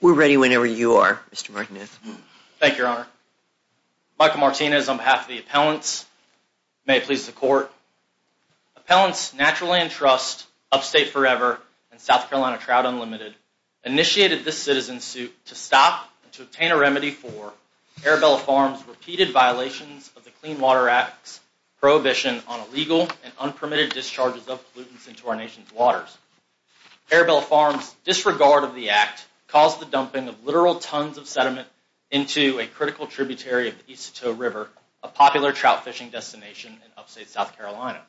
We're ready whenever you are, Mr. Martinez. Thank you, Your Honor. Michael Martinez, on behalf of the appellants, may it please the court. Appellants Natural Land Trust, Upstate Forever, and South Carolina Trout Unlimited initiated this citizen suit to stop and to obtain a remedy for Arabella Farms' repeated violations of the Clean Water Act's prohibition on illegal and unpermitted discharges of pollutants into our nation's waters. Arabella Farms' disregard of the act caused the dumping of literal tons of sediment into a critical tributary of the Isotope River, a popular trout fishing destination in Upstate South Carolina.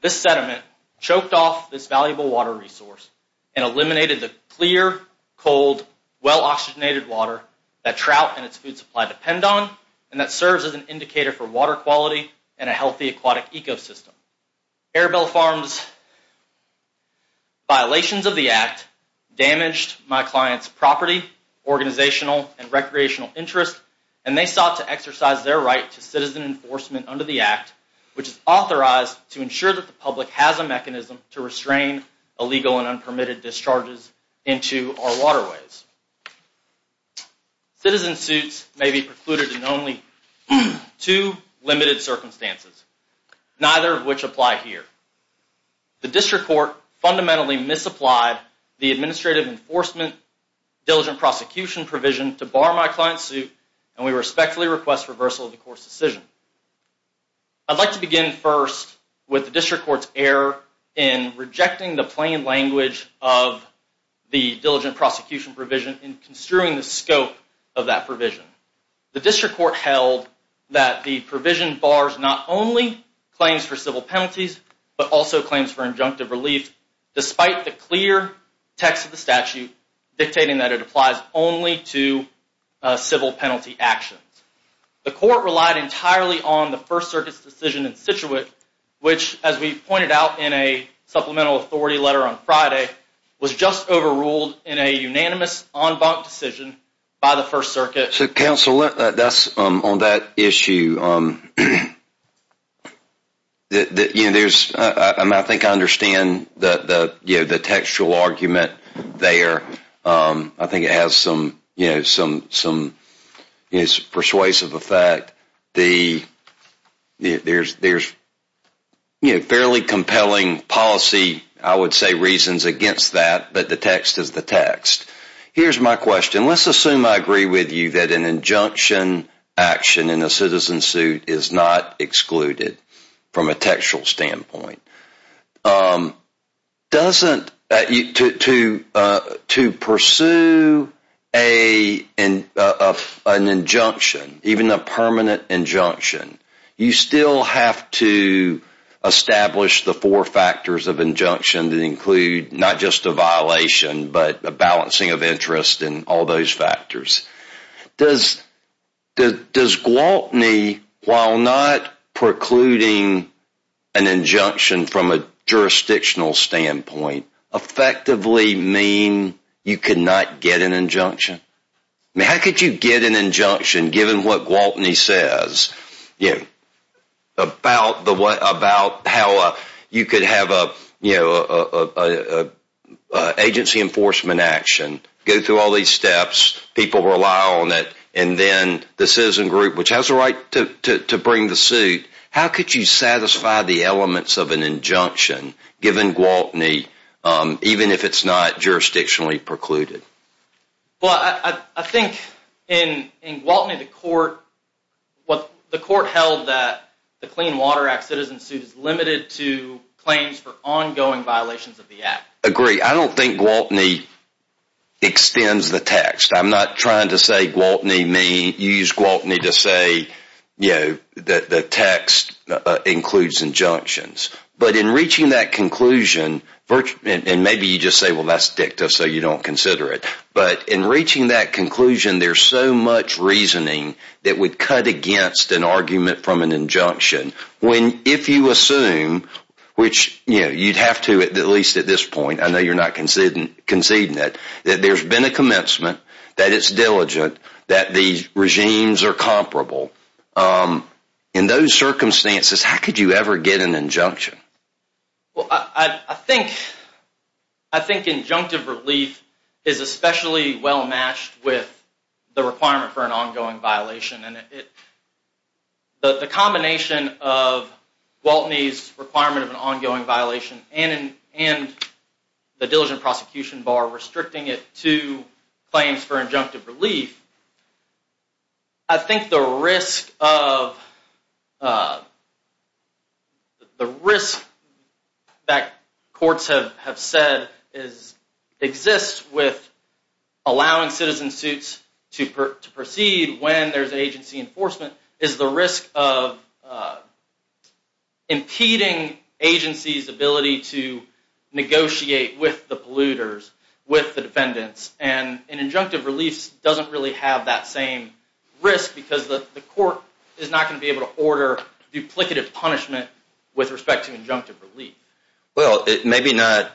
This sediment choked off this valuable water resource and eliminated the clear, cold, well-oxygenated water that trout and its food supply depend on and that serves as an indicator for water quality and a healthy aquatic ecosystem. Arabella Farms' violations of the act damaged my client's property, organizational, and recreational interests, and they sought to exercise their right to citizen enforcement under the act, which is authorized to ensure that the public has a mechanism to restrain illegal and unpermitted discharges into our waterways. Citizen suits may be precluded in only two limited circumstances, neither of which apply here. The District Court fundamentally misapplied the Administrative Enforcement Diligent Prosecution provision to bar my client's suit, and we respectfully request reversal of the court's decision. I'd like to begin first with the District Court's error in rejecting the plain language of the Diligent Prosecution provision in construing the scope of that provision. The District Court held that the provision bars not only claims for civil penalties but also claims for injunctive relief, despite the clear text of the statute dictating that it applies only to civil penalty actions. The court relied entirely on the First Circuit's decision in situate, which as we pointed out in a Supplemental on Friday, was just overruled in a unanimous, en banc decision by the First Circuit. So, Counsel, on that issue, I think I understand the textual argument there. I think it has some persuasive effect. There's fairly compelling policy, I would say, reasons against that, but the text is the text. Here's my question. Let's assume I agree with you that an injunction action in a citizen suit is not excluded from a textual standpoint. To pursue an injunction, even a permanent injunction, you still have to establish the four factors of injunction that include not just a violation but a balancing of interest and all factors. Does Gwaltney, while not precluding an injunction from a jurisdictional standpoint, effectively mean you cannot get an injunction? How could you get an injunction given what Gwaltney people rely on, and then the citizen group, which has the right to bring the suit, how could you satisfy the elements of an injunction given Gwaltney, even if it's not jurisdictionally precluded? Well, I think in Gwaltney, the court held that the Clean Water Act citizen suit is limited to claims for ongoing violations of the Act. Agree. I don't think Gwaltney extends the text. I'm not trying to say Gwaltney may use Gwaltney to say the text includes injunctions. But in reaching that conclusion, and maybe you just say, well, that's dicta, so you don't consider it. But in reaching that conclusion, there's so much reasoning that would cut against an argument from an injunction. If you assume, which you'd have to at least at this point, I know you're not conceding that, that there's been a commencement, that it's diligent, that the regimes are comparable, in those circumstances, how could you ever get an injunction? Well, I think injunctive relief is especially well matched with the requirement for an ongoing violation. And the combination of Gwaltney's requirement of ongoing violation and the diligent prosecution bar restricting it to claims for injunctive relief, I think the risk that courts have said exists with allowing citizen suits to proceed when there's agency enforcement, is the risk of impeding agency's ability to negotiate with the polluters, with the defendants. And an injunctive relief doesn't really have that same risk because the court is not going to be able to order duplicative punishment with respect to injunctive relief. Well, it may be not,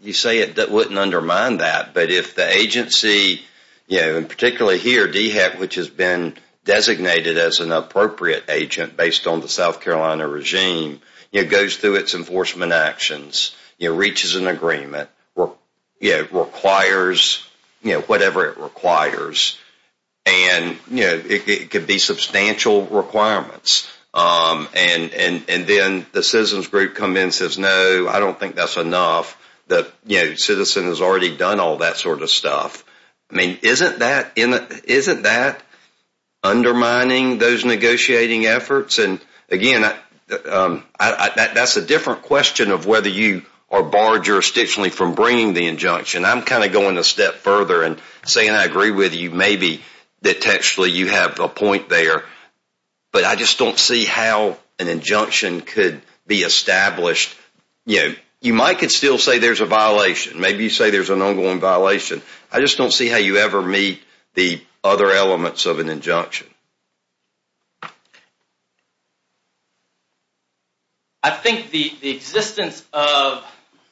you say it wouldn't undermine that, but if the agency, and particularly here, DHEC, which has been designated as an appropriate agent based on the South Carolina regime, it goes through its enforcement actions, reaches an agreement, requires whatever it requires, and it could be substantial requirements. And then the citizens group come in and says, no, I don't think that's enough, the citizen has already done all that stuff. I mean, isn't that undermining those negotiating efforts? And again, that's a different question of whether you are barred jurisdictionally from bringing the injunction. I'm kind of going a step further and saying I agree with you, maybe that actually you have a point there, but I just don't see how an injunction could be established. You might still say there's a violation, maybe you say there's an ongoing violation, I just don't see how you ever meet the other elements of an injunction. I think the existence of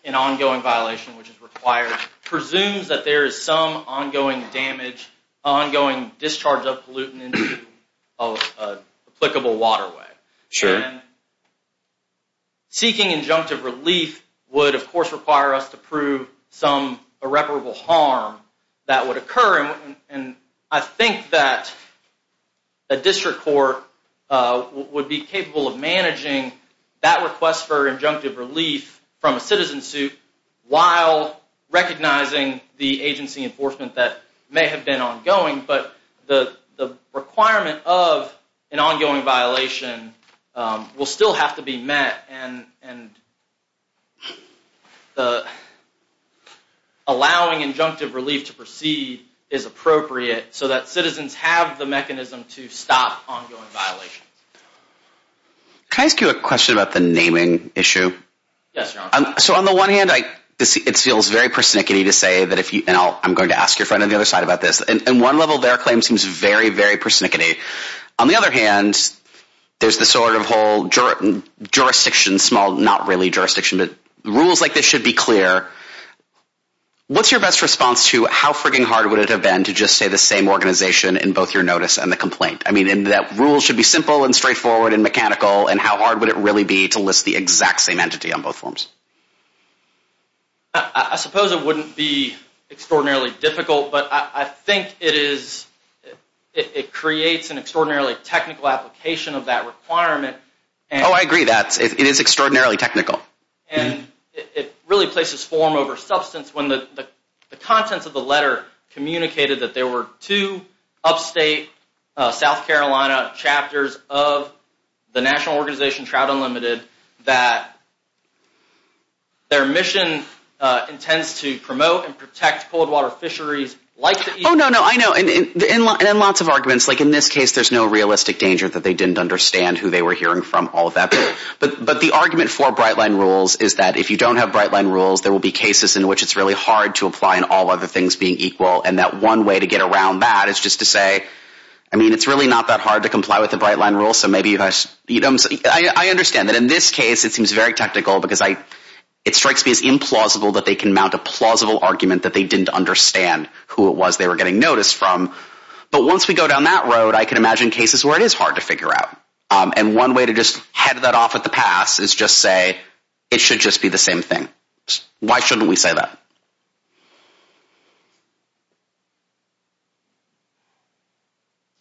an ongoing violation, which is required, presumes that there is some ongoing damage, ongoing discharge of pollutants of applicable waterway. Seeking injunctive relief would, of course, require us to prove some irreparable harm that would occur, and I think that a district court would be capable of managing that request for injunctive relief from a citizen suit while recognizing the agency enforcement that may have been ongoing, but the requirement of an ongoing violation will still have to be met, and allowing injunctive relief to proceed is appropriate so that citizens have the mechanism to stop ongoing violations. Can I ask you a question about the naming issue? Yes, your honor. So on the one hand, it feels very persnickety to say that if you know, I'm going to ask your friend on the other side about this, and one level their claim seems very, very persnickety. On the other hand, there's the sort of whole jurisdiction, small, not really jurisdiction, but rules like this should be clear. What's your best response to how freaking hard would it have been to just say the same organization in both your notice and the complaint? I mean, and that rule should be simple and straightforward and mechanical, and how hard would it really be to name the exact same entity on both forms? I suppose it wouldn't be extraordinarily difficult, but I think it is, it creates an extraordinarily technical application of that requirement. Oh, I agree that it is extraordinarily technical. And it really places form over substance when the contents of the letter communicated that there were two upstate South Carolina chapters of the national organization, Trout Unlimited, that their mission intends to promote and protect cold water fisheries like... Oh, no, no, I know, and lots of arguments, like in this case, there's no realistic danger that they didn't understand who they were hearing from, all of that, but the argument for Brightline rules is that if you don't have Brightline rules, there will be cases in which it's really hard to apply in all other things being equal, and that one way to get around that is just to say, I mean, it's really not that hard to comply with the Brightline rules, so maybe you guys, you know, I understand that in this case, it seems very technical because it strikes me as implausible that they can mount a plausible argument that they didn't understand who it was they were getting notice from, but once we go down that road, I can imagine cases where it is hard to figure out, and one way to just head that off at the pass is just say, it should just be the same Why shouldn't we say that?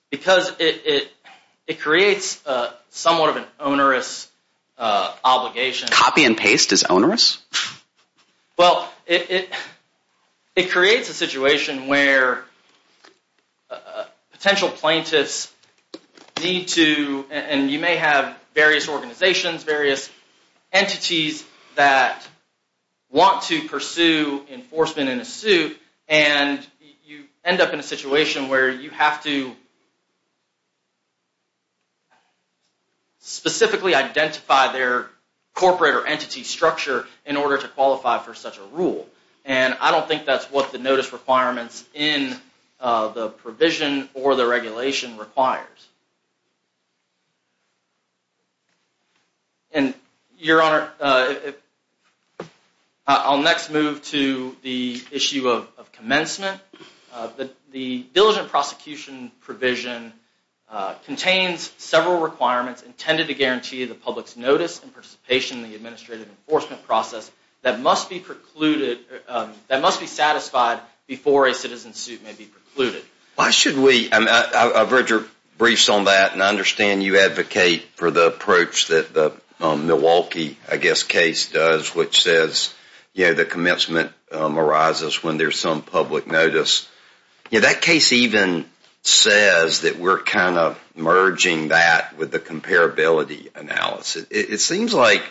Because it creates somewhat of an onerous obligation. Copy and paste is onerous? Well, it creates a situation where potential plaintiffs need to, and you may have various organizations, various entities that want to pursue enforcement in a suit, and you end up in a situation where you have to specifically identify their corporate or entity structure in order to qualify for such a rule, and I don't think that's what the notice requirements in the provision or the regulation requires. And your honor, I'll next move to the issue of commencement. The diligent prosecution provision contains several requirements intended to guarantee the public's notice and participation in the administrative enforcement process that must be precluded, that must be satisfied before a citizen's suit may be precluded. Why should we, I've read your briefs on that, and I understand you advocate for the approach that the Milwaukee case does, which says the commencement arises when there's some public notice. That case even says that we're kind of merging that with the comparability analysis. It seems like,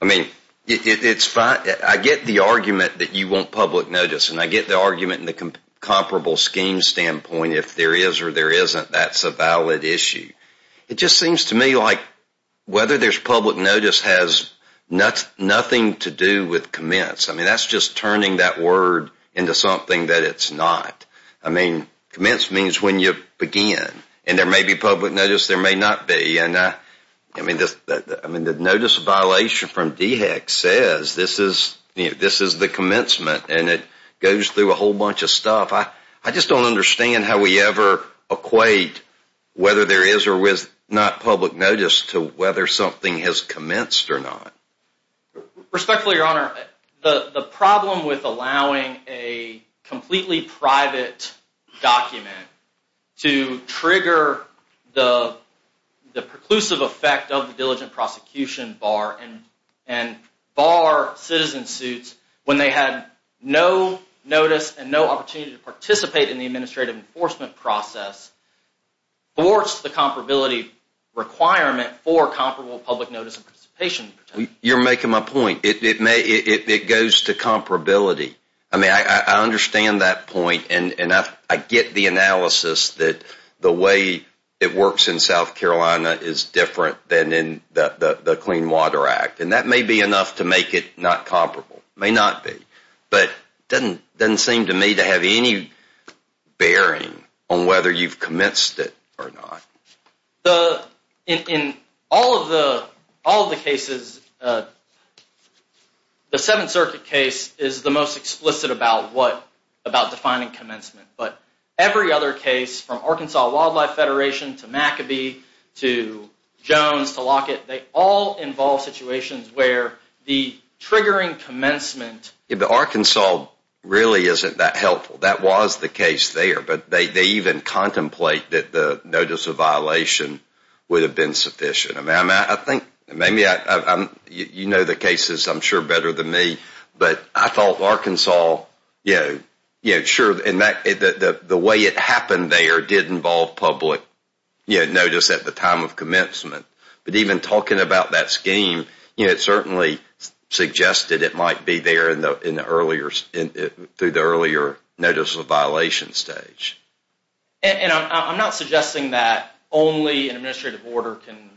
I mean, it's fine, I get the argument that you want public notice, and I get the argument in the comparable scheme standpoint, if there is or there isn't, that's a valid issue. It just seems to me like whether there's public notice has nothing to do with commence. I mean, that's just turning that word into something that it's not. I mean, commence means when you begin, and there may be public notice, there may not be, and I mean, the notice violation from DHEC says this is, you know, this is the commencement, and it goes through a whole equate whether there is or is not public notice to whether something has commenced or not. Respectfully, your honor, the problem with allowing a completely private document to trigger the preclusive effect of the diligent prosecution bar and bar citizen suits when they had no notice and no opportunity to participate in the administrative enforcement process thwarts the comparability requirement for comparable public notice of participation. You're making my point. It may, it goes to comparability. I mean, I understand that point, and I get the analysis that the way it works in South Carolina is different than in the Clean Water Act, and that may be enough to make it not comparable. It may not be, but it doesn't seem to me to have any bearing on whether you've commenced it or not. In all of the cases, the Seventh Circuit case is the most explicit about defining commencement, but every other case from Arkansas Wildlife Federation to McAbee to Jones to Lockett, they all involve situations where the triggering commencement... Arkansas really isn't that helpful. That was the case there, but they even contemplate that the notice of violation would have been sufficient. I mean, I think maybe I'm, you know the cases I'm sure better than me, but I thought Arkansas, you know, sure, and the way it happened there did involve public notice at the time of commencement, but even talking about that scheme, you know, it certainly suggested it might be there in the earlier, through the earlier notice of violation stage. And I'm not suggesting that only an administrative order can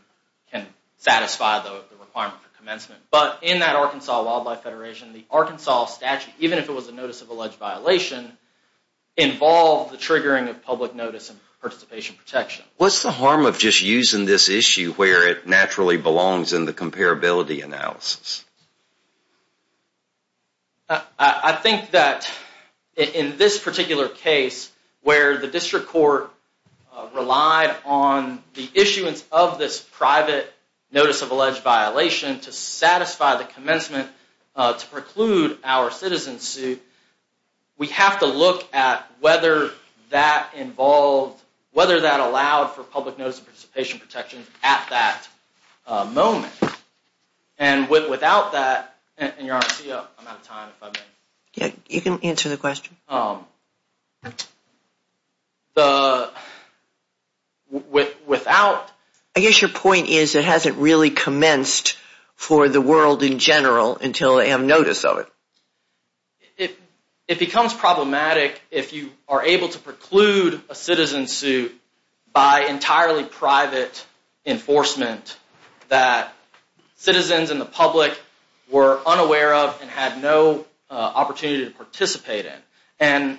satisfy the requirement for commencement, but in that Arkansas Wildlife Federation, the Arkansas statute, even if it was a notice of alleged violation, involved the triggering of public notice and participation protection. What's the harm of just using this issue where it naturally belongs in the comparability analysis? I think that in this particular case, where the district court relied on the issuance of this private notice of alleged violation to satisfy the commencement, to preclude our citizen suit, we have to look at whether that involved, whether that allowed for public notice of participation protection at that moment. And without that, and Your Honor, I'm out of time. You can answer the question. I guess your point is it hasn't really commenced for the world in general until they have notice of it. It becomes problematic if you are able to preclude a citizen suit by entirely private enforcement that citizens and the public were unaware of and had no opportunity to participate in. And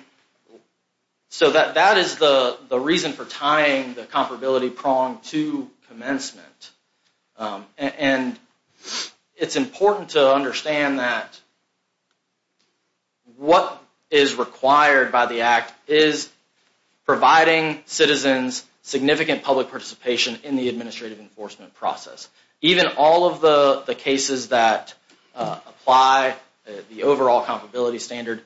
so that is the reason for tying the comparability prong to commencement. And it's important to understand that what is required by the Act is providing citizens significant public participation in the administrative enforcement process. Even all of the cases that apply the overall comparability standard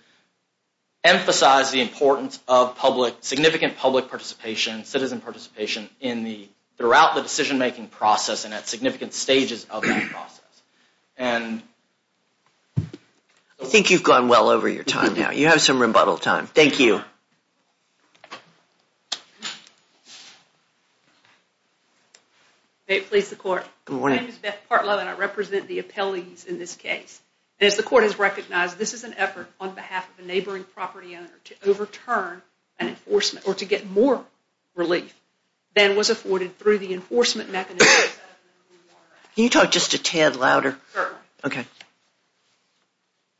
emphasize the importance of significant public participation, citizen participation, throughout the decision-making process and at significant stages of that process. I think you've gone well over your time now. You have some rebuttal time. Thank you. May it please the Court. My name is Beth Partlow and I represent the appellees in this case. And as the Court has recognized, this is an effort on behalf of a neighboring property owner to overturn an enforcement or to get more relief than was afforded through the enforcement mechanism. Can you talk just a tad louder? Okay.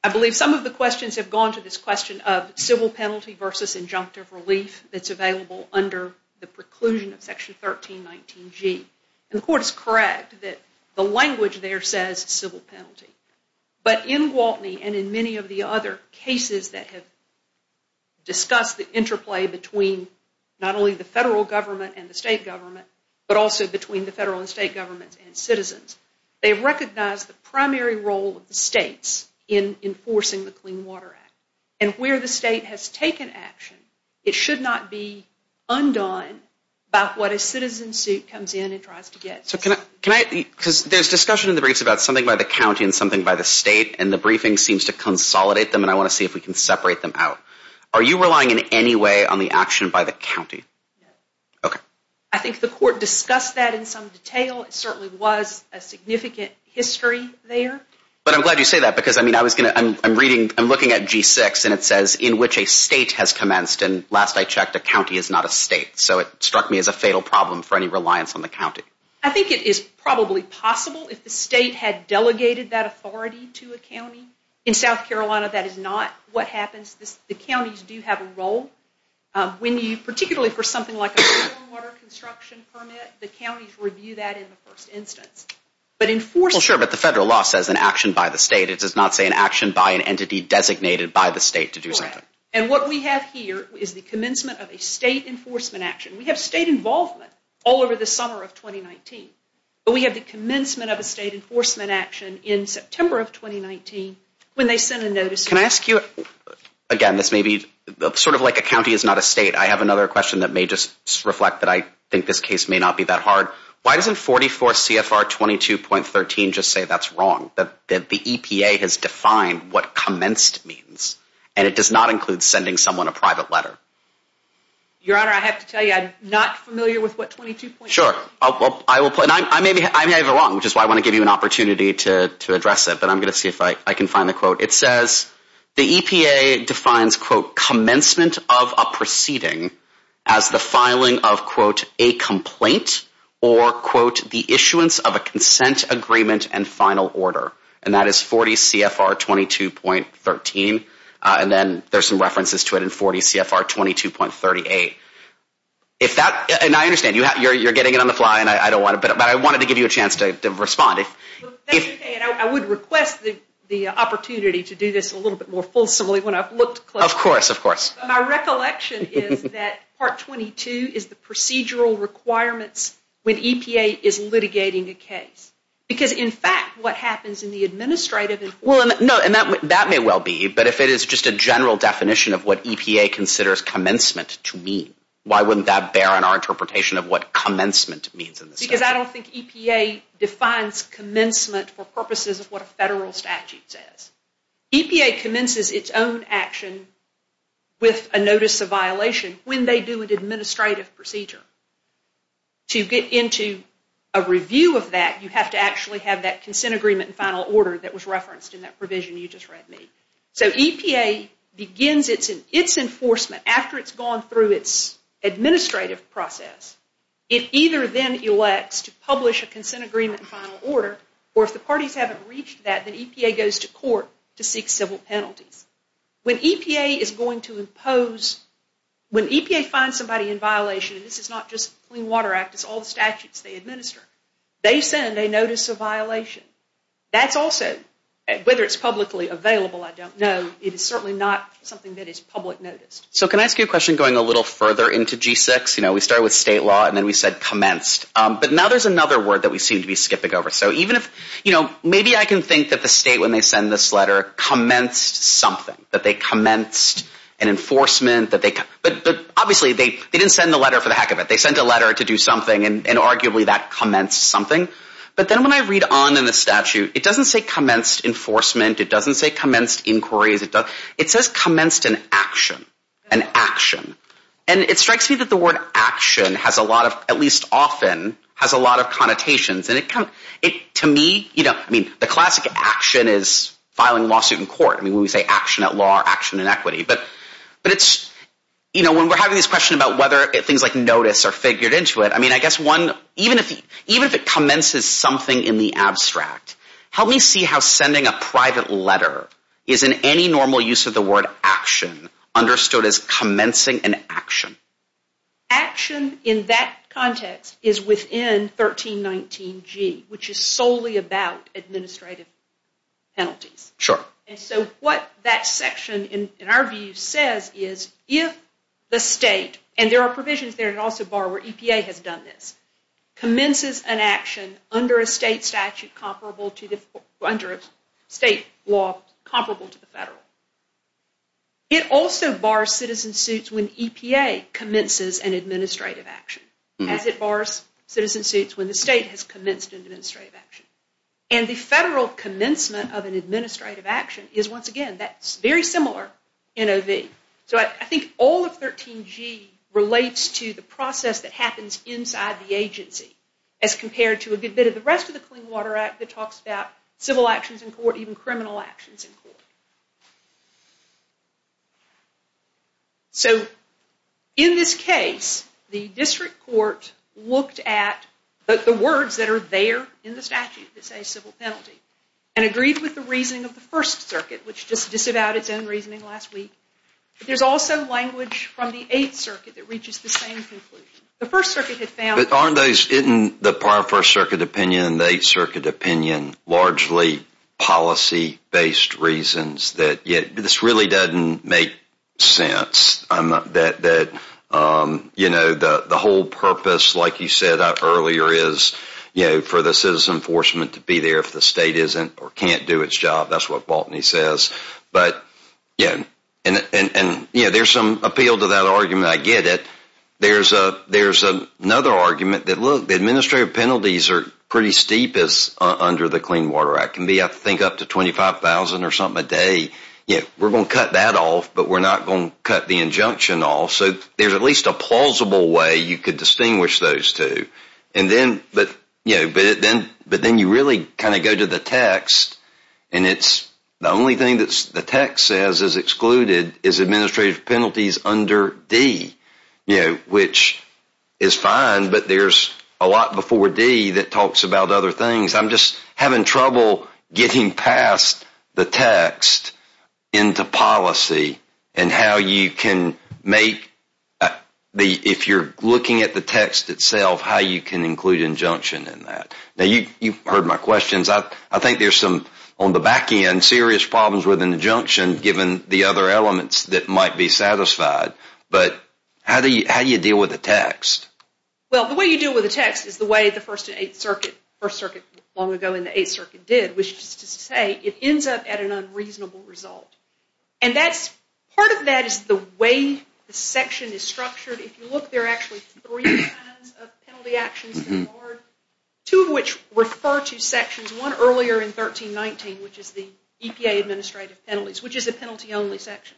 I believe some of the questions have gone to this question of civil penalty versus injunctive relief that's available under the preclusion of Section 1319G. And the Court is correct that the language there says civil penalty. But in Gwaltney and in many of the other cases that have discussed the interplay between not only the federal government and the state government, but also between the federal and state governments and citizens, they recognize the primary role of the states in enforcing the Clean Water Act. And where the state has taken action, it should not be undone by what a citizen suit comes in and tries to get. Because there's discussion in the briefs about something by the county and something by the state and the briefing seems to consolidate them and I want to see if we can separate them out. Are you relying in any way on the action by the county? Okay. I think the Court discussed that in some detail. It certainly was a significant history there. But I'm glad you say that because I mean I was going to I'm reading I'm looking at G6 and it says in which a state has commenced and last I checked a county is not a state. So it struck me as a fatal problem for any reliance on the county. I think it is probably possible if the state had delegated that authority to a county. In South Carolina, that is not what happens. The counties do have a role. When you particularly for something like a clean water construction permit, the counties review that in the first instance. But enforcing Sure, but the federal law says an action by the state. It does not say an action by an entity designated by the state to do something. And what we have here is the commencement of a state enforcement action. We have state involvement all over the summer of 2019. But we have the commencement of a state enforcement action in September of 2019 when they send a notice. Can I ask you again? This may be sort of like a county is not a state. I have another question that may just reflect that I think this case may not be that hard. Why doesn't 44 CFR 22.13 just say that's wrong that the EPA has defined what commenced means and it does not include sending someone a private letter? Your Honor, I have to tell you, I'm not familiar with what 22.13. Sure, I will put and I may be wrong, which is why I want to give you an opportunity to find the quote. It says the EPA defines, quote, commencement of a proceeding as the filing of, quote, a complaint or, quote, the issuance of a consent agreement and final order. And that is 40 CFR 22.13. And then there's some references to it in 40 CFR 22.38. If that and I understand you're getting it on the fly. And I don't want to. But I wanted to give you a chance to respond. I would request the opportunity to do this a little bit more fulsomely when I've looked. Of course, of course. My recollection is that part 22 is the procedural requirements when EPA is litigating a case. Because in fact, what happens in the administrative. Well, no, and that may well be. But if it is just a general definition of what EPA considers commencement to mean, why wouldn't that bear on our interpretation of what commencement means? Because I don't think EPA defines commencement for purposes of what a federal statute says. EPA commences its own action with a notice of violation when they do an administrative procedure. To get into a review of that, you have to actually have that consent agreement and final order that was referenced in that provision you just read me. So EPA begins its enforcement after it's gone through its administrative process. It either then elects to publish a consent agreement and final order. Or if the parties haven't reached that, then EPA goes to court to seek civil penalties. When EPA is going to impose, when EPA finds somebody in violation, and this is not just Clean Water Act. It's all the statutes they administer. They send a notice of violation. That's also, whether it's publicly available, I don't know. It is certainly not something that is public noticed. So can I ask you a question going a little further into G6? You know, we started with state law and then we said commenced. But now there's another word that we seem to be skipping over. So even if, you know, maybe I can think that the state, when they send this letter, commenced something. That they commenced an enforcement. But obviously, they didn't send the letter for the heck of it. They sent a letter to do something and arguably that commenced something. But then when I read on in the statute, it doesn't say commenced enforcement. It doesn't say commenced inquiries. It says commenced an action. An action. And it strikes me that the word action has a lot of, at least often, has a lot of connotations. And to me, you know, I mean, the classic action is filing a lawsuit in court. I mean, when we say action at law or action in equity. But it's, you know, when we're having this question about whether things like notice are figured into it, I mean, I guess one, even if it commences something in the abstract, help me see how the word action understood as commencing an action. Action in that context is within 1319G, which is solely about administrative penalties. Sure. And so what that section, in our view, says is if the state, and there are provisions there and also borrow where EPA has done this, commences an action under a state statute comparable to the, under a state law comparable to the federal. It also bars citizen suits when EPA commences an administrative action, as it bars citizen suits when the state has commenced an administrative action. And the federal commencement of an administrative action is, once again, that's very similar in OV. So I think all of 13G relates to the process that happens inside the agency as compared to a good bit of the rest of the Clean Water Act that talks about civil actions in court, even criminal actions in court. So in this case, the district court looked at the words that are there in the statute that say civil penalty and agreed with the reasoning of the First Circuit, which just disavowed its own reasoning last week. But there's also language from the Eighth Circuit that reaches the same conclusion. The First Circuit had found... But aren't those, isn't the prior First Circuit opinion, the Eighth Circuit opinion, largely policy-based reasons that this really doesn't make sense? That the whole purpose, like you said earlier, is for the citizen enforcement to be there if the state isn't or can't do its job. That's what Baltany says. But yeah, and there's some appeal to that argument. I get it. There's another argument that, look, the administrative penalties are pretty steep as under the Clean Water Act. It can be, I think, up to $25,000 or something a day. We're going to cut that off, but we're not going to cut the injunction off. So there's at least a plausible way you could distinguish those two. But then you really kind of go to the text, and the only thing that the text says is excluded is administrative penalties under D, which is fine, but there's a lot before D that talks about other things. I'm just having trouble getting past the text into policy and how you can make, if you're looking at the text itself, how you can include injunction in that. Now, you've heard my questions. I think there's some, on the back end, serious problems with the other elements that might be satisfied, but how do you deal with the text? Well, the way you deal with the text is the way the First and Eighth Circuit, First Circuit long ago in the Eighth Circuit, did, which is to say it ends up at an unreasonable result. And that's, part of that is the way the section is structured. If you look, there are actually three kinds of penalty actions that are, two of which refer to sections, one earlier in 1319, which is the EPA administrative penalties, which is a penalty-only section.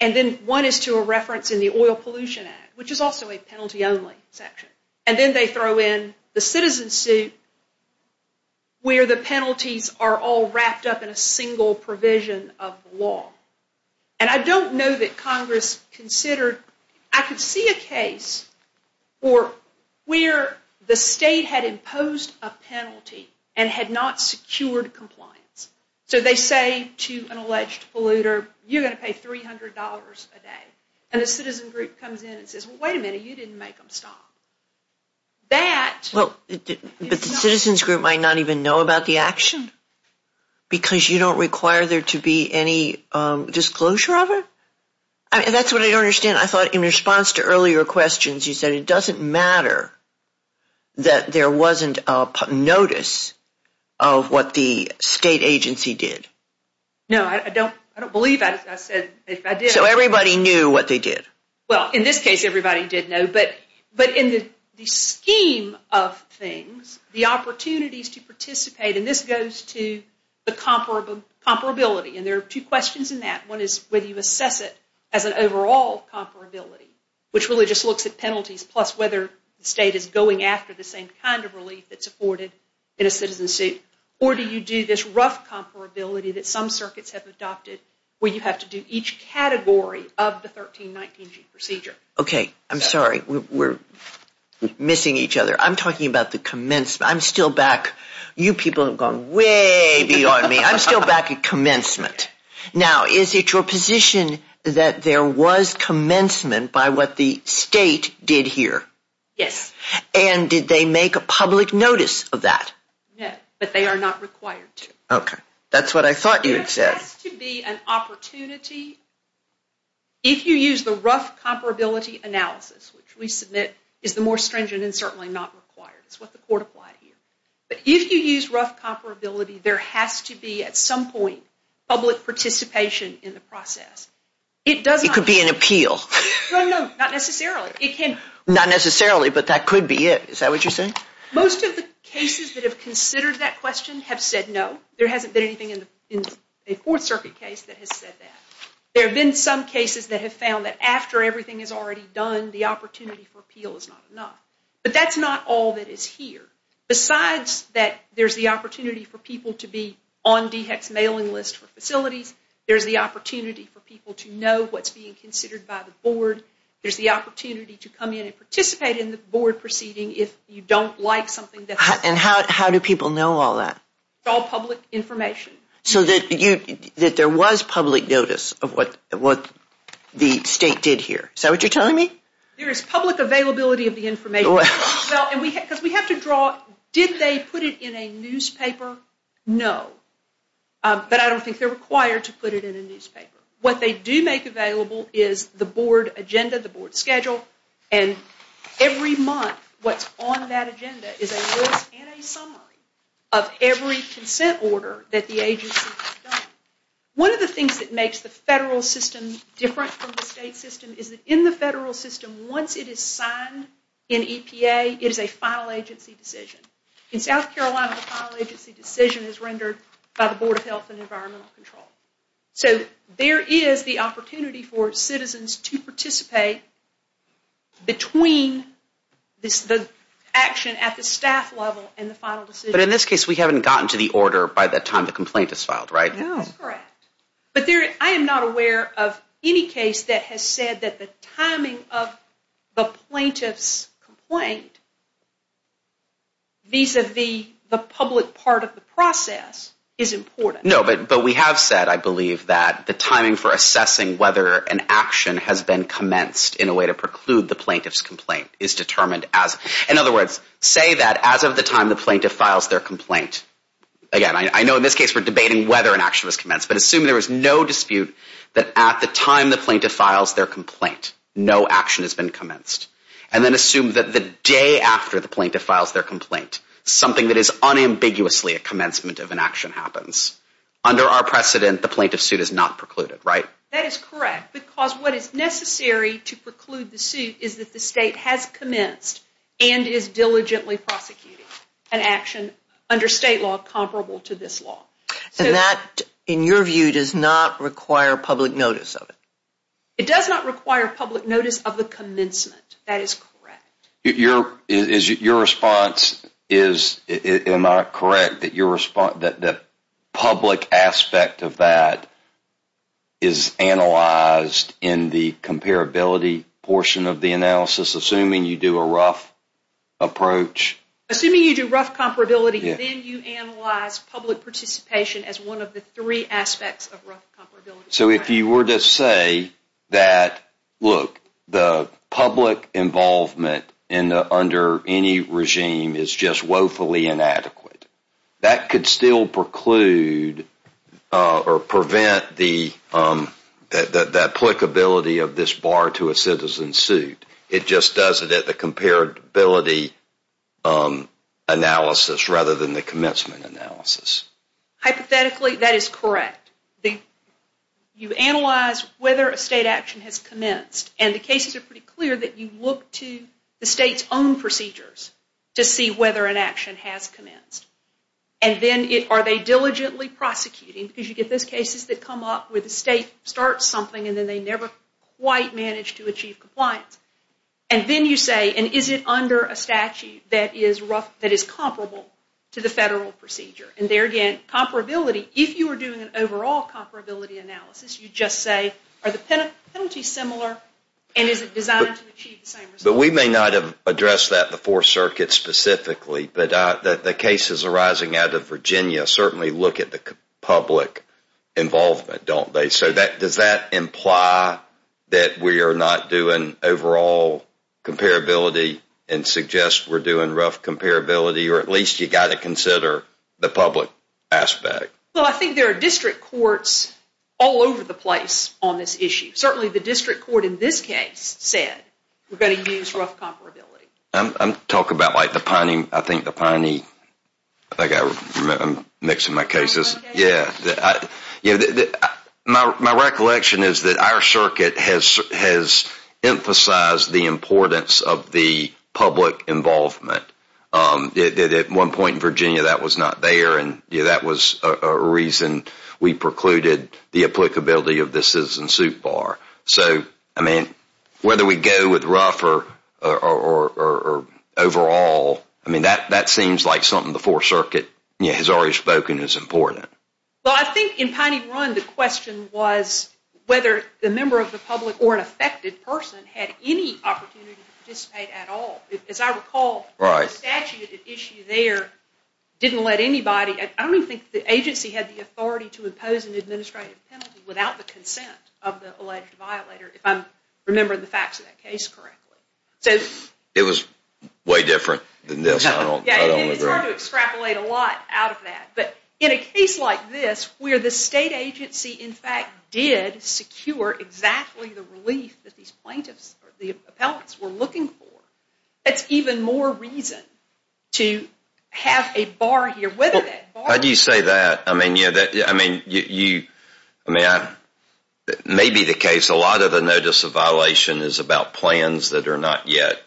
And then one is to a reference in the Oil Pollution Act, which is also a penalty-only section. And then they throw in the citizen suit where the penalties are all wrapped up in a single provision of the law. And I don't know that Congress considered, I could see a case for where the state had imposed a penalty and had not secured compliance. So they say to an alleged polluter, you're going to pay $300 a day. And the citizen group comes in and says, well, wait a minute, you didn't make them stop. That... Well, but the citizens group might not even know about the action because you don't require there to be any disclosure of it? I mean, that's what I don't understand. I thought in response to earlier questions, you said it doesn't matter that there wasn't a notice of what the state agency did. No, I don't believe that. I said if I did... So everybody knew what they did? Well, in this case, everybody did know. But in the scheme of things, the opportunities to participate, and this goes to the comparability. And there are two questions in that. One is whether you assess it as an overall comparability, which really just looks at penalties, plus whether the state is going after the same kind of relief that's afforded in a citizen suit. Or do you do this rough comparability that some circuits have adopted where you have to do each category of the 1319G procedure? Okay. I'm sorry. We're missing each other. I'm talking about the commencement. I'm still back... You people have gone way beyond me. I'm still back at commencement. Now, is it your position that there was commencement by what the state did here? Yes. And did they make a public notice of that? Yes, but they are not required to. Okay. That's what I thought you had said. There has to be an opportunity. If you use the rough comparability analysis, which we submit is the more stringent and certainly not required. It's what the court applied here. But if you use comparability, there has to be at some point public participation in the process. It could be an appeal. Not necessarily. Not necessarily, but that could be it. Is that what you're saying? Most of the cases that have considered that question have said no. There hasn't been anything in a Fourth Circuit case that has said that. There have been some cases that have found that after everything is already done, the opportunity for appeal is not enough. But that's not all that to be on DHEC's mailing list for facilities. There's the opportunity for people to know what's being considered by the board. There's the opportunity to come in and participate in the board proceeding if you don't like something. And how do people know all that? All public information. So that there was public notice of what the state did here. Is that what you're telling me? There is public availability of the information. Because we have to draw, did they put it in a newspaper? No. But I don't think they're required to put it in a newspaper. What they do make available is the board agenda, the board schedule, and every month what's on that agenda is a list and a summary of every consent order that the agency has done. One of the things that makes the federal system different from the state system is that in the federal system, once it is signed in EPA, it is a final agency decision. In South Carolina, the final agency decision is rendered by the Board of Health and Environmental Control. So there is the opportunity for citizens to participate between the action at the staff level and the final decision. But in this case, we haven't gotten to the order by the time the complaint is filed, right? No. That's the plaintiff's complaint vis-a-vis the public part of the process is important. No, but we have said, I believe, that the timing for assessing whether an action has been commenced in a way to preclude the plaintiff's complaint is determined as, in other words, say that as of the time the plaintiff files their complaint. Again, I know in this case we're debating whether an action was commenced, but assume there was no dispute that at the time the plaintiff files their complaint, no action has been commenced. And then assume that the day after the plaintiff files their complaint, something that is unambiguously a commencement of an action happens. Under our precedent, the plaintiff's suit is not precluded, right? That is correct, because what is necessary to preclude the suit is that the state has commenced and is diligently prosecuting an action under state law comparable to this law. And that, in your view, does not require public notice of the commencement. That is correct. Your response is, am I correct, that the public aspect of that is analyzed in the comparability portion of the analysis, assuming you do a rough approach? Assuming you do rough comparability, then you analyze public participation as one of the three aspects of rough comparability. So if you were to say that, look, the public involvement under any regime is just woefully inadequate, that could still preclude or prevent the applicability of this bar to a citizen's suit. It just does it at the comparability analysis rather than the commencement analysis. Hypothetically, that is correct. You analyze whether a state action has commenced, and the cases are pretty clear that you look to the state's own procedures to see whether an action has commenced. And then are they diligently prosecuting, because you get those cases that come up where the state starts something and then they never quite manage to achieve compliance. And then you say, is it under a statute that is comparable to the federal procedure? And there again, comparability, if you were doing an overall comparability analysis, you just say, are the penalties similar, and is it designed to achieve the same result? But we may not have addressed that before circuit specifically, but the cases arising out of Virginia certainly look at the public involvement, don't they? So does that imply that we are not doing overall comparability and suggest we're doing rough comparability, or at least you've got to consider the public aspect? Well, I think there are district courts all over the place on this issue. Certainly, the district court in this case said we're going to use rough comparability. I'm talking about like the Piney, I think the Piney, I think I'm mixing my cases. Yeah. My recollection is that our circuit has emphasized the importance of the public involvement. At one point in Virginia, that was not there, and that was a reason we precluded the applicability of the Citizen Soup Bar. So, I mean, whether we go with rough or overall, I mean, that seems like something the Fourth Circuit has already spoken is important. Well, I think in Piney Run, the question was whether the member of the public or an affected person had any opportunity to participate at all. As I recall, the statute at issue there didn't let anybody, I don't even think the agency had the authority to impose an administrative penalty without the consent of the alleged violator, if I'm remembering the facts of that case correctly. It was way different than this, I don't remember. It's hard to extrapolate a lot out of that, but in a case like this where the state agency in fact did secure exactly the relief that these plaintiffs or the appellants were looking for, that's even more reason to have a bar here. How do you say that? I mean, maybe the case, a lot of the notice of violation is about plans that are not yet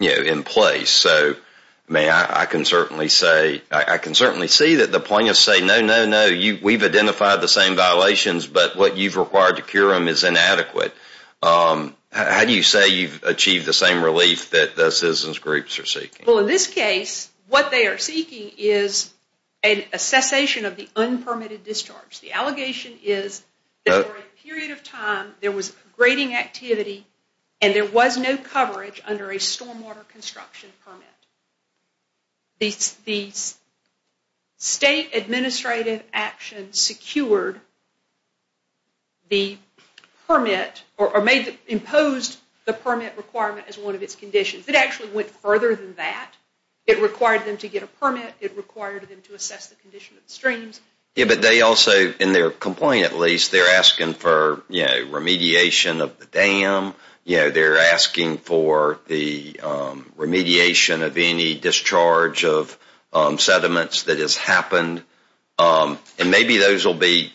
in place. So, I mean, I can certainly say, I can certainly see that the plaintiffs say, no, no, no, we've identified the same violations, but what you've required to cure them is inadequate. How do you say you've achieved the same relief that the citizens groups are seeking? Well, in this case, what they are seeking is a cessation of the unpermitted discharge. The allegation is that for a period of time there was grading activity and there was no coverage under a stormwater construction permit. The state administrative action secured the permit or imposed the permit requirement as one of its conditions. It actually went further than that. It required them to get a permit. It required them to assess the condition of the streams. Yeah, but they also, in their complaint at least, they're asking for, you know, remediation of the dam. You know, they're asking for the remediation of any discharge of sediments that has happened, and maybe those will be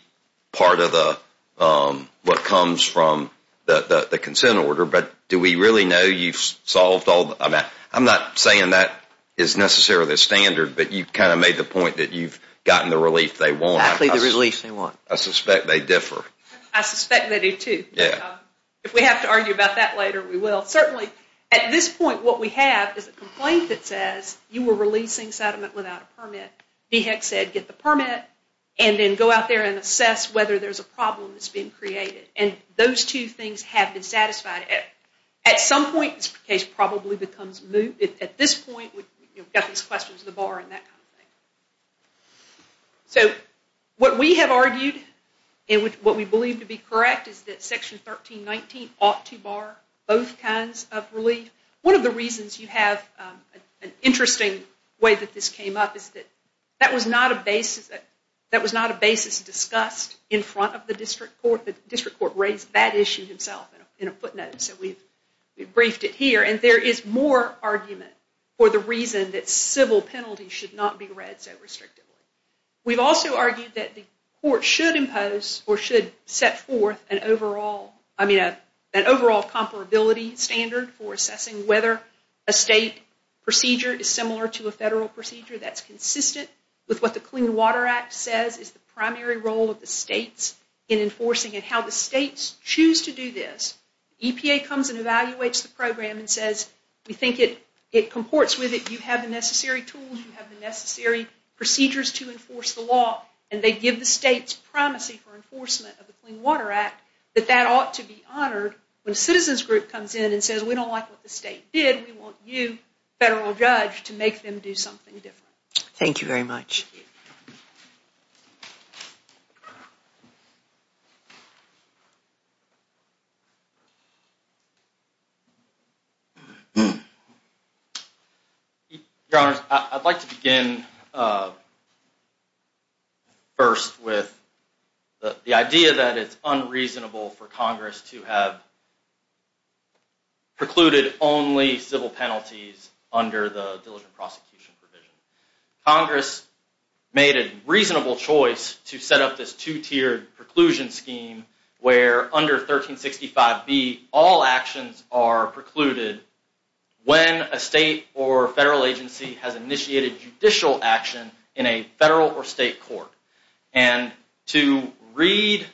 part of what comes from the consent order, but do we really know you've solved all that? I'm not saying that is necessarily the standard, but you've kind of made the point that you've gotten the relief they want. Actually, the relief they want. I suspect they differ. I suspect they do too. Yeah. If we have to argue about that later, we will. Certainly at this point, what we have is a complaint that says you were releasing sediment without a permit, DHEC said get the permit, and then go out there and assess whether there's a problem that's being created, and those two things have been satisfied. At some point, this case probably becomes moot. At this point, we've got these questions of the bar and that kind of thing. So what we have argued and what we believe to be correct is that Section 1319 ought to bar both kinds of relief. One of the reasons you have an interesting way that this came up is that that was not a basis discussed in front of the district court. The district court raised that issue himself in a footnote, so we've briefed it here, and there is more argument for the reason that civil penalties should not be read so restrictively. We've also argued that the court should impose or should set forth an overall, I mean an overall comparability standard for assessing whether a state procedure is similar to a federal procedure that's consistent with what the Clean Water Act says is the primary role of the states in enforcing it. How the states choose to do this, EPA comes and evaluates the program and says we think it comports with it, you have the necessary tools, you have the necessary procedures to enforce the law, and they give the states promise for enforcement of the Clean Water Act that that ought to be honored when a citizens group comes in and says we don't like what the state did, we want you, federal judge, to make them do something different. Thank you very much. Your Honors, I'd like to begin first with the idea that it's unreasonable for Congress to have precluded only civil penalties under the diligent prosecution provision. Congress made a reasonable choice to set up this two-tiered preclusion scheme where under 1365b all actions are precluded when a state or federal agency has initiated judicial action in a federal or state court. And to read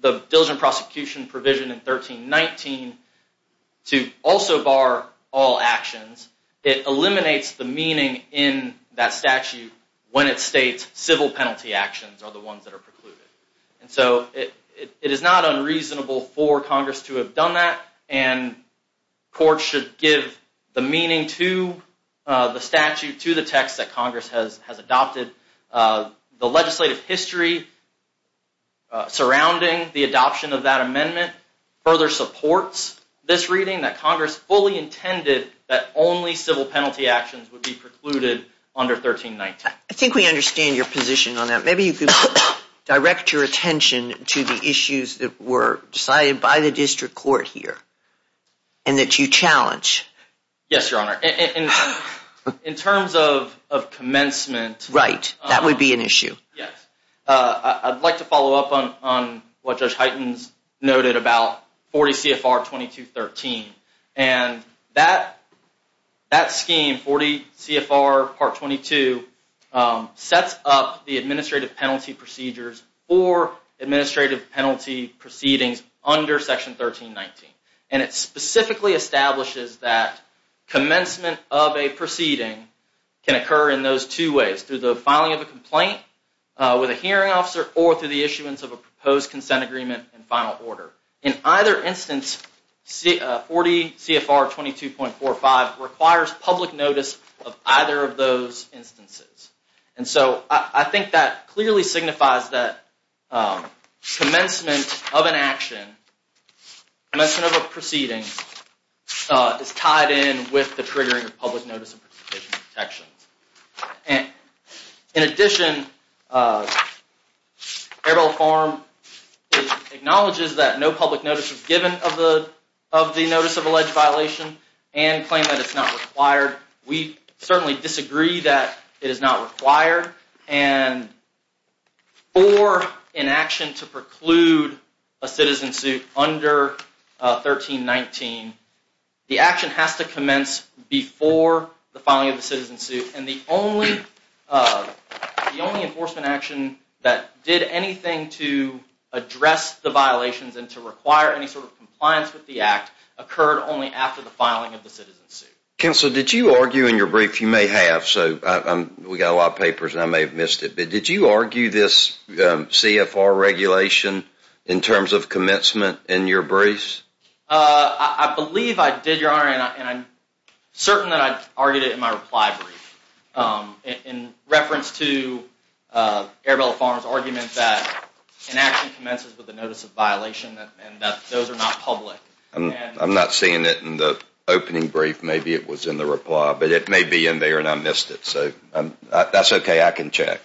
the diligent prosecution provision in 1319 to also bar all actions, it eliminates the meaning in that statute when it states civil penalty actions are the ones that are precluded. And so it is not unreasonable for Congress to have done that and courts should give the meaning to the statute, to the text that Congress has adopted. The legislative history surrounding the adoption of that amendment further supports this reading that Congress fully intended that only civil penalty actions would be precluded under 1319. I think we understand your position on that. Maybe you could direct your attention to the issues that were decided by the district court here and that you challenge. Yes, Your Honor. In terms of commencement. Right, that would be an issue. Yes, I'd like to follow up on what Judge Heightens noted about 40 CFR 2213. And that scheme 40 CFR part 22 sets up the administrative penalty procedures or administrative penalty proceedings under section 1319. And it specifically establishes that commencement of a proceeding can occur in those two ways through the filing of a complaint with a hearing officer or through the issuance of a proposed consent agreement and final order. In either instance, 40 CFR 22.45 requires public notice of either of those instances. And so I think that clearly signifies that commencement of an action, commencement of a proceeding, is tied in with the triggering of public notice of protections. And in addition, Arabelle Farm acknowledges that no public notice was given of the notice of alleged violation and claimed that it's not required. We certainly disagree that it is not required. And for an action to preclude a citizen suit under 1319, the action has to commence before the filing of the citizen suit. And the only enforcement action that did anything to address the violations and to require any sort of compliance with the act occurred only after the filing of the citizen suit. Counsel, did you argue in your brief, you may have, so we got a lot of papers and I may have missed it, but did you argue this CFR regulation in terms of commencement in your briefs? I believe I did, Your Honor, and I'm in my reply brief in reference to Arabelle Farm's argument that an action commences with a notice of violation and that those are not public. I'm not seeing it in the opening brief. Maybe it was in the reply, but it may be in there and I missed it. So that's okay. I can check.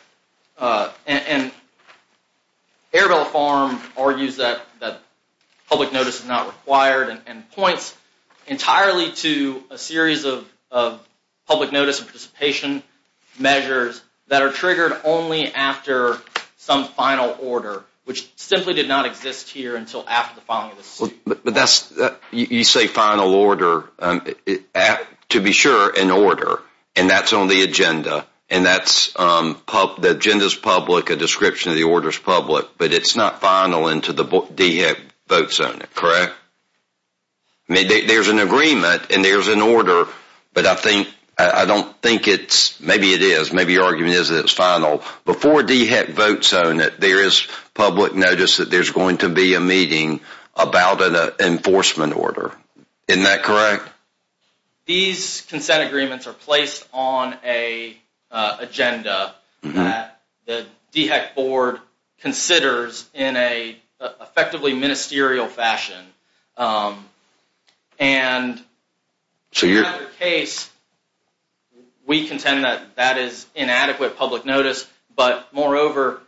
And Arabelle Farm argues that public notice is not required and points entirely to a series of public notice of participation measures that are triggered only after some final order, which simply did not exist here until after the filing of the suit. But that's, you say final order, to be sure, in order, and that's on the agenda, and that's, the agenda's public, a description of the order's public, but it's not final until the DHEC votes on it, correct? I mean, there's an agreement and there's an order, but I think, I don't think it's, maybe it is, maybe your argument is that it's final. Before DHEC votes on it, there is public notice that there's going to be a meeting about an enforcement order. Isn't that correct? These consent agreements are placed on a agenda that the DHEC board considers in a effectively ministerial fashion. And so your case, we contend that that is inadequate public notice, but moreover,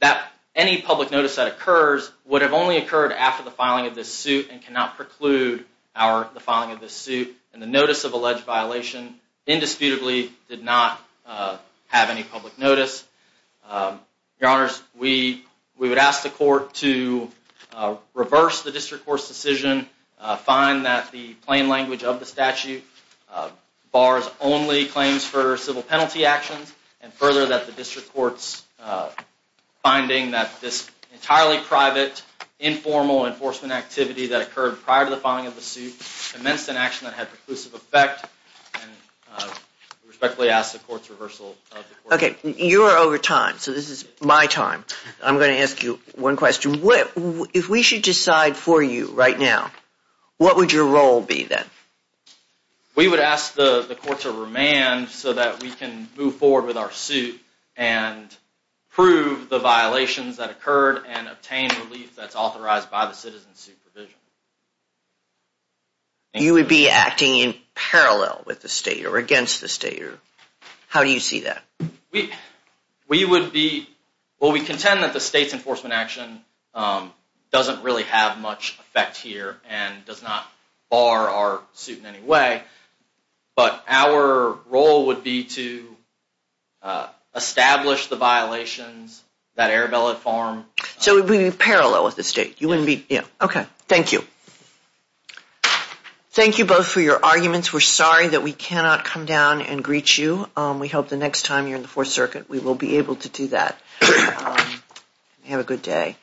that any public notice that occurs would have only occurred after the filing of this suit and cannot preclude our, the filing of this suit, and the notice of alleged violation indisputably did not have any public notice. Your honors, we would ask the court to reverse the district court's decision, find that the plain language of the statute bars only claims for civil penalty actions, and further that the district court's finding that this entirely private, informal enforcement activity that occurred prior to filing of the suit commenced an action that had preclusive effect and respectfully ask the court's reversal. Okay, you're over time, so this is my time. I'm going to ask you one question. If we should decide for you right now, what would your role be then? We would ask the court to remand so that we can move forward with our suit and prove the violations that occurred and obtain relief that's authorized by the citizen's supervision. You would be acting in parallel with the state or against the state? How do you see that? We would be, well, we contend that the state's enforcement action doesn't really have much effect here and does not bar our suit in any way, but our role would be to establish the violations that Arabella formed. So it would be parallel with the state? You wouldn't be, yeah. Okay, thank you. Thank you both for your arguments. We're sorry that we cannot come down and greet you. We hope the next time you're in the Fourth Circuit we will be able to do that. Have a good day.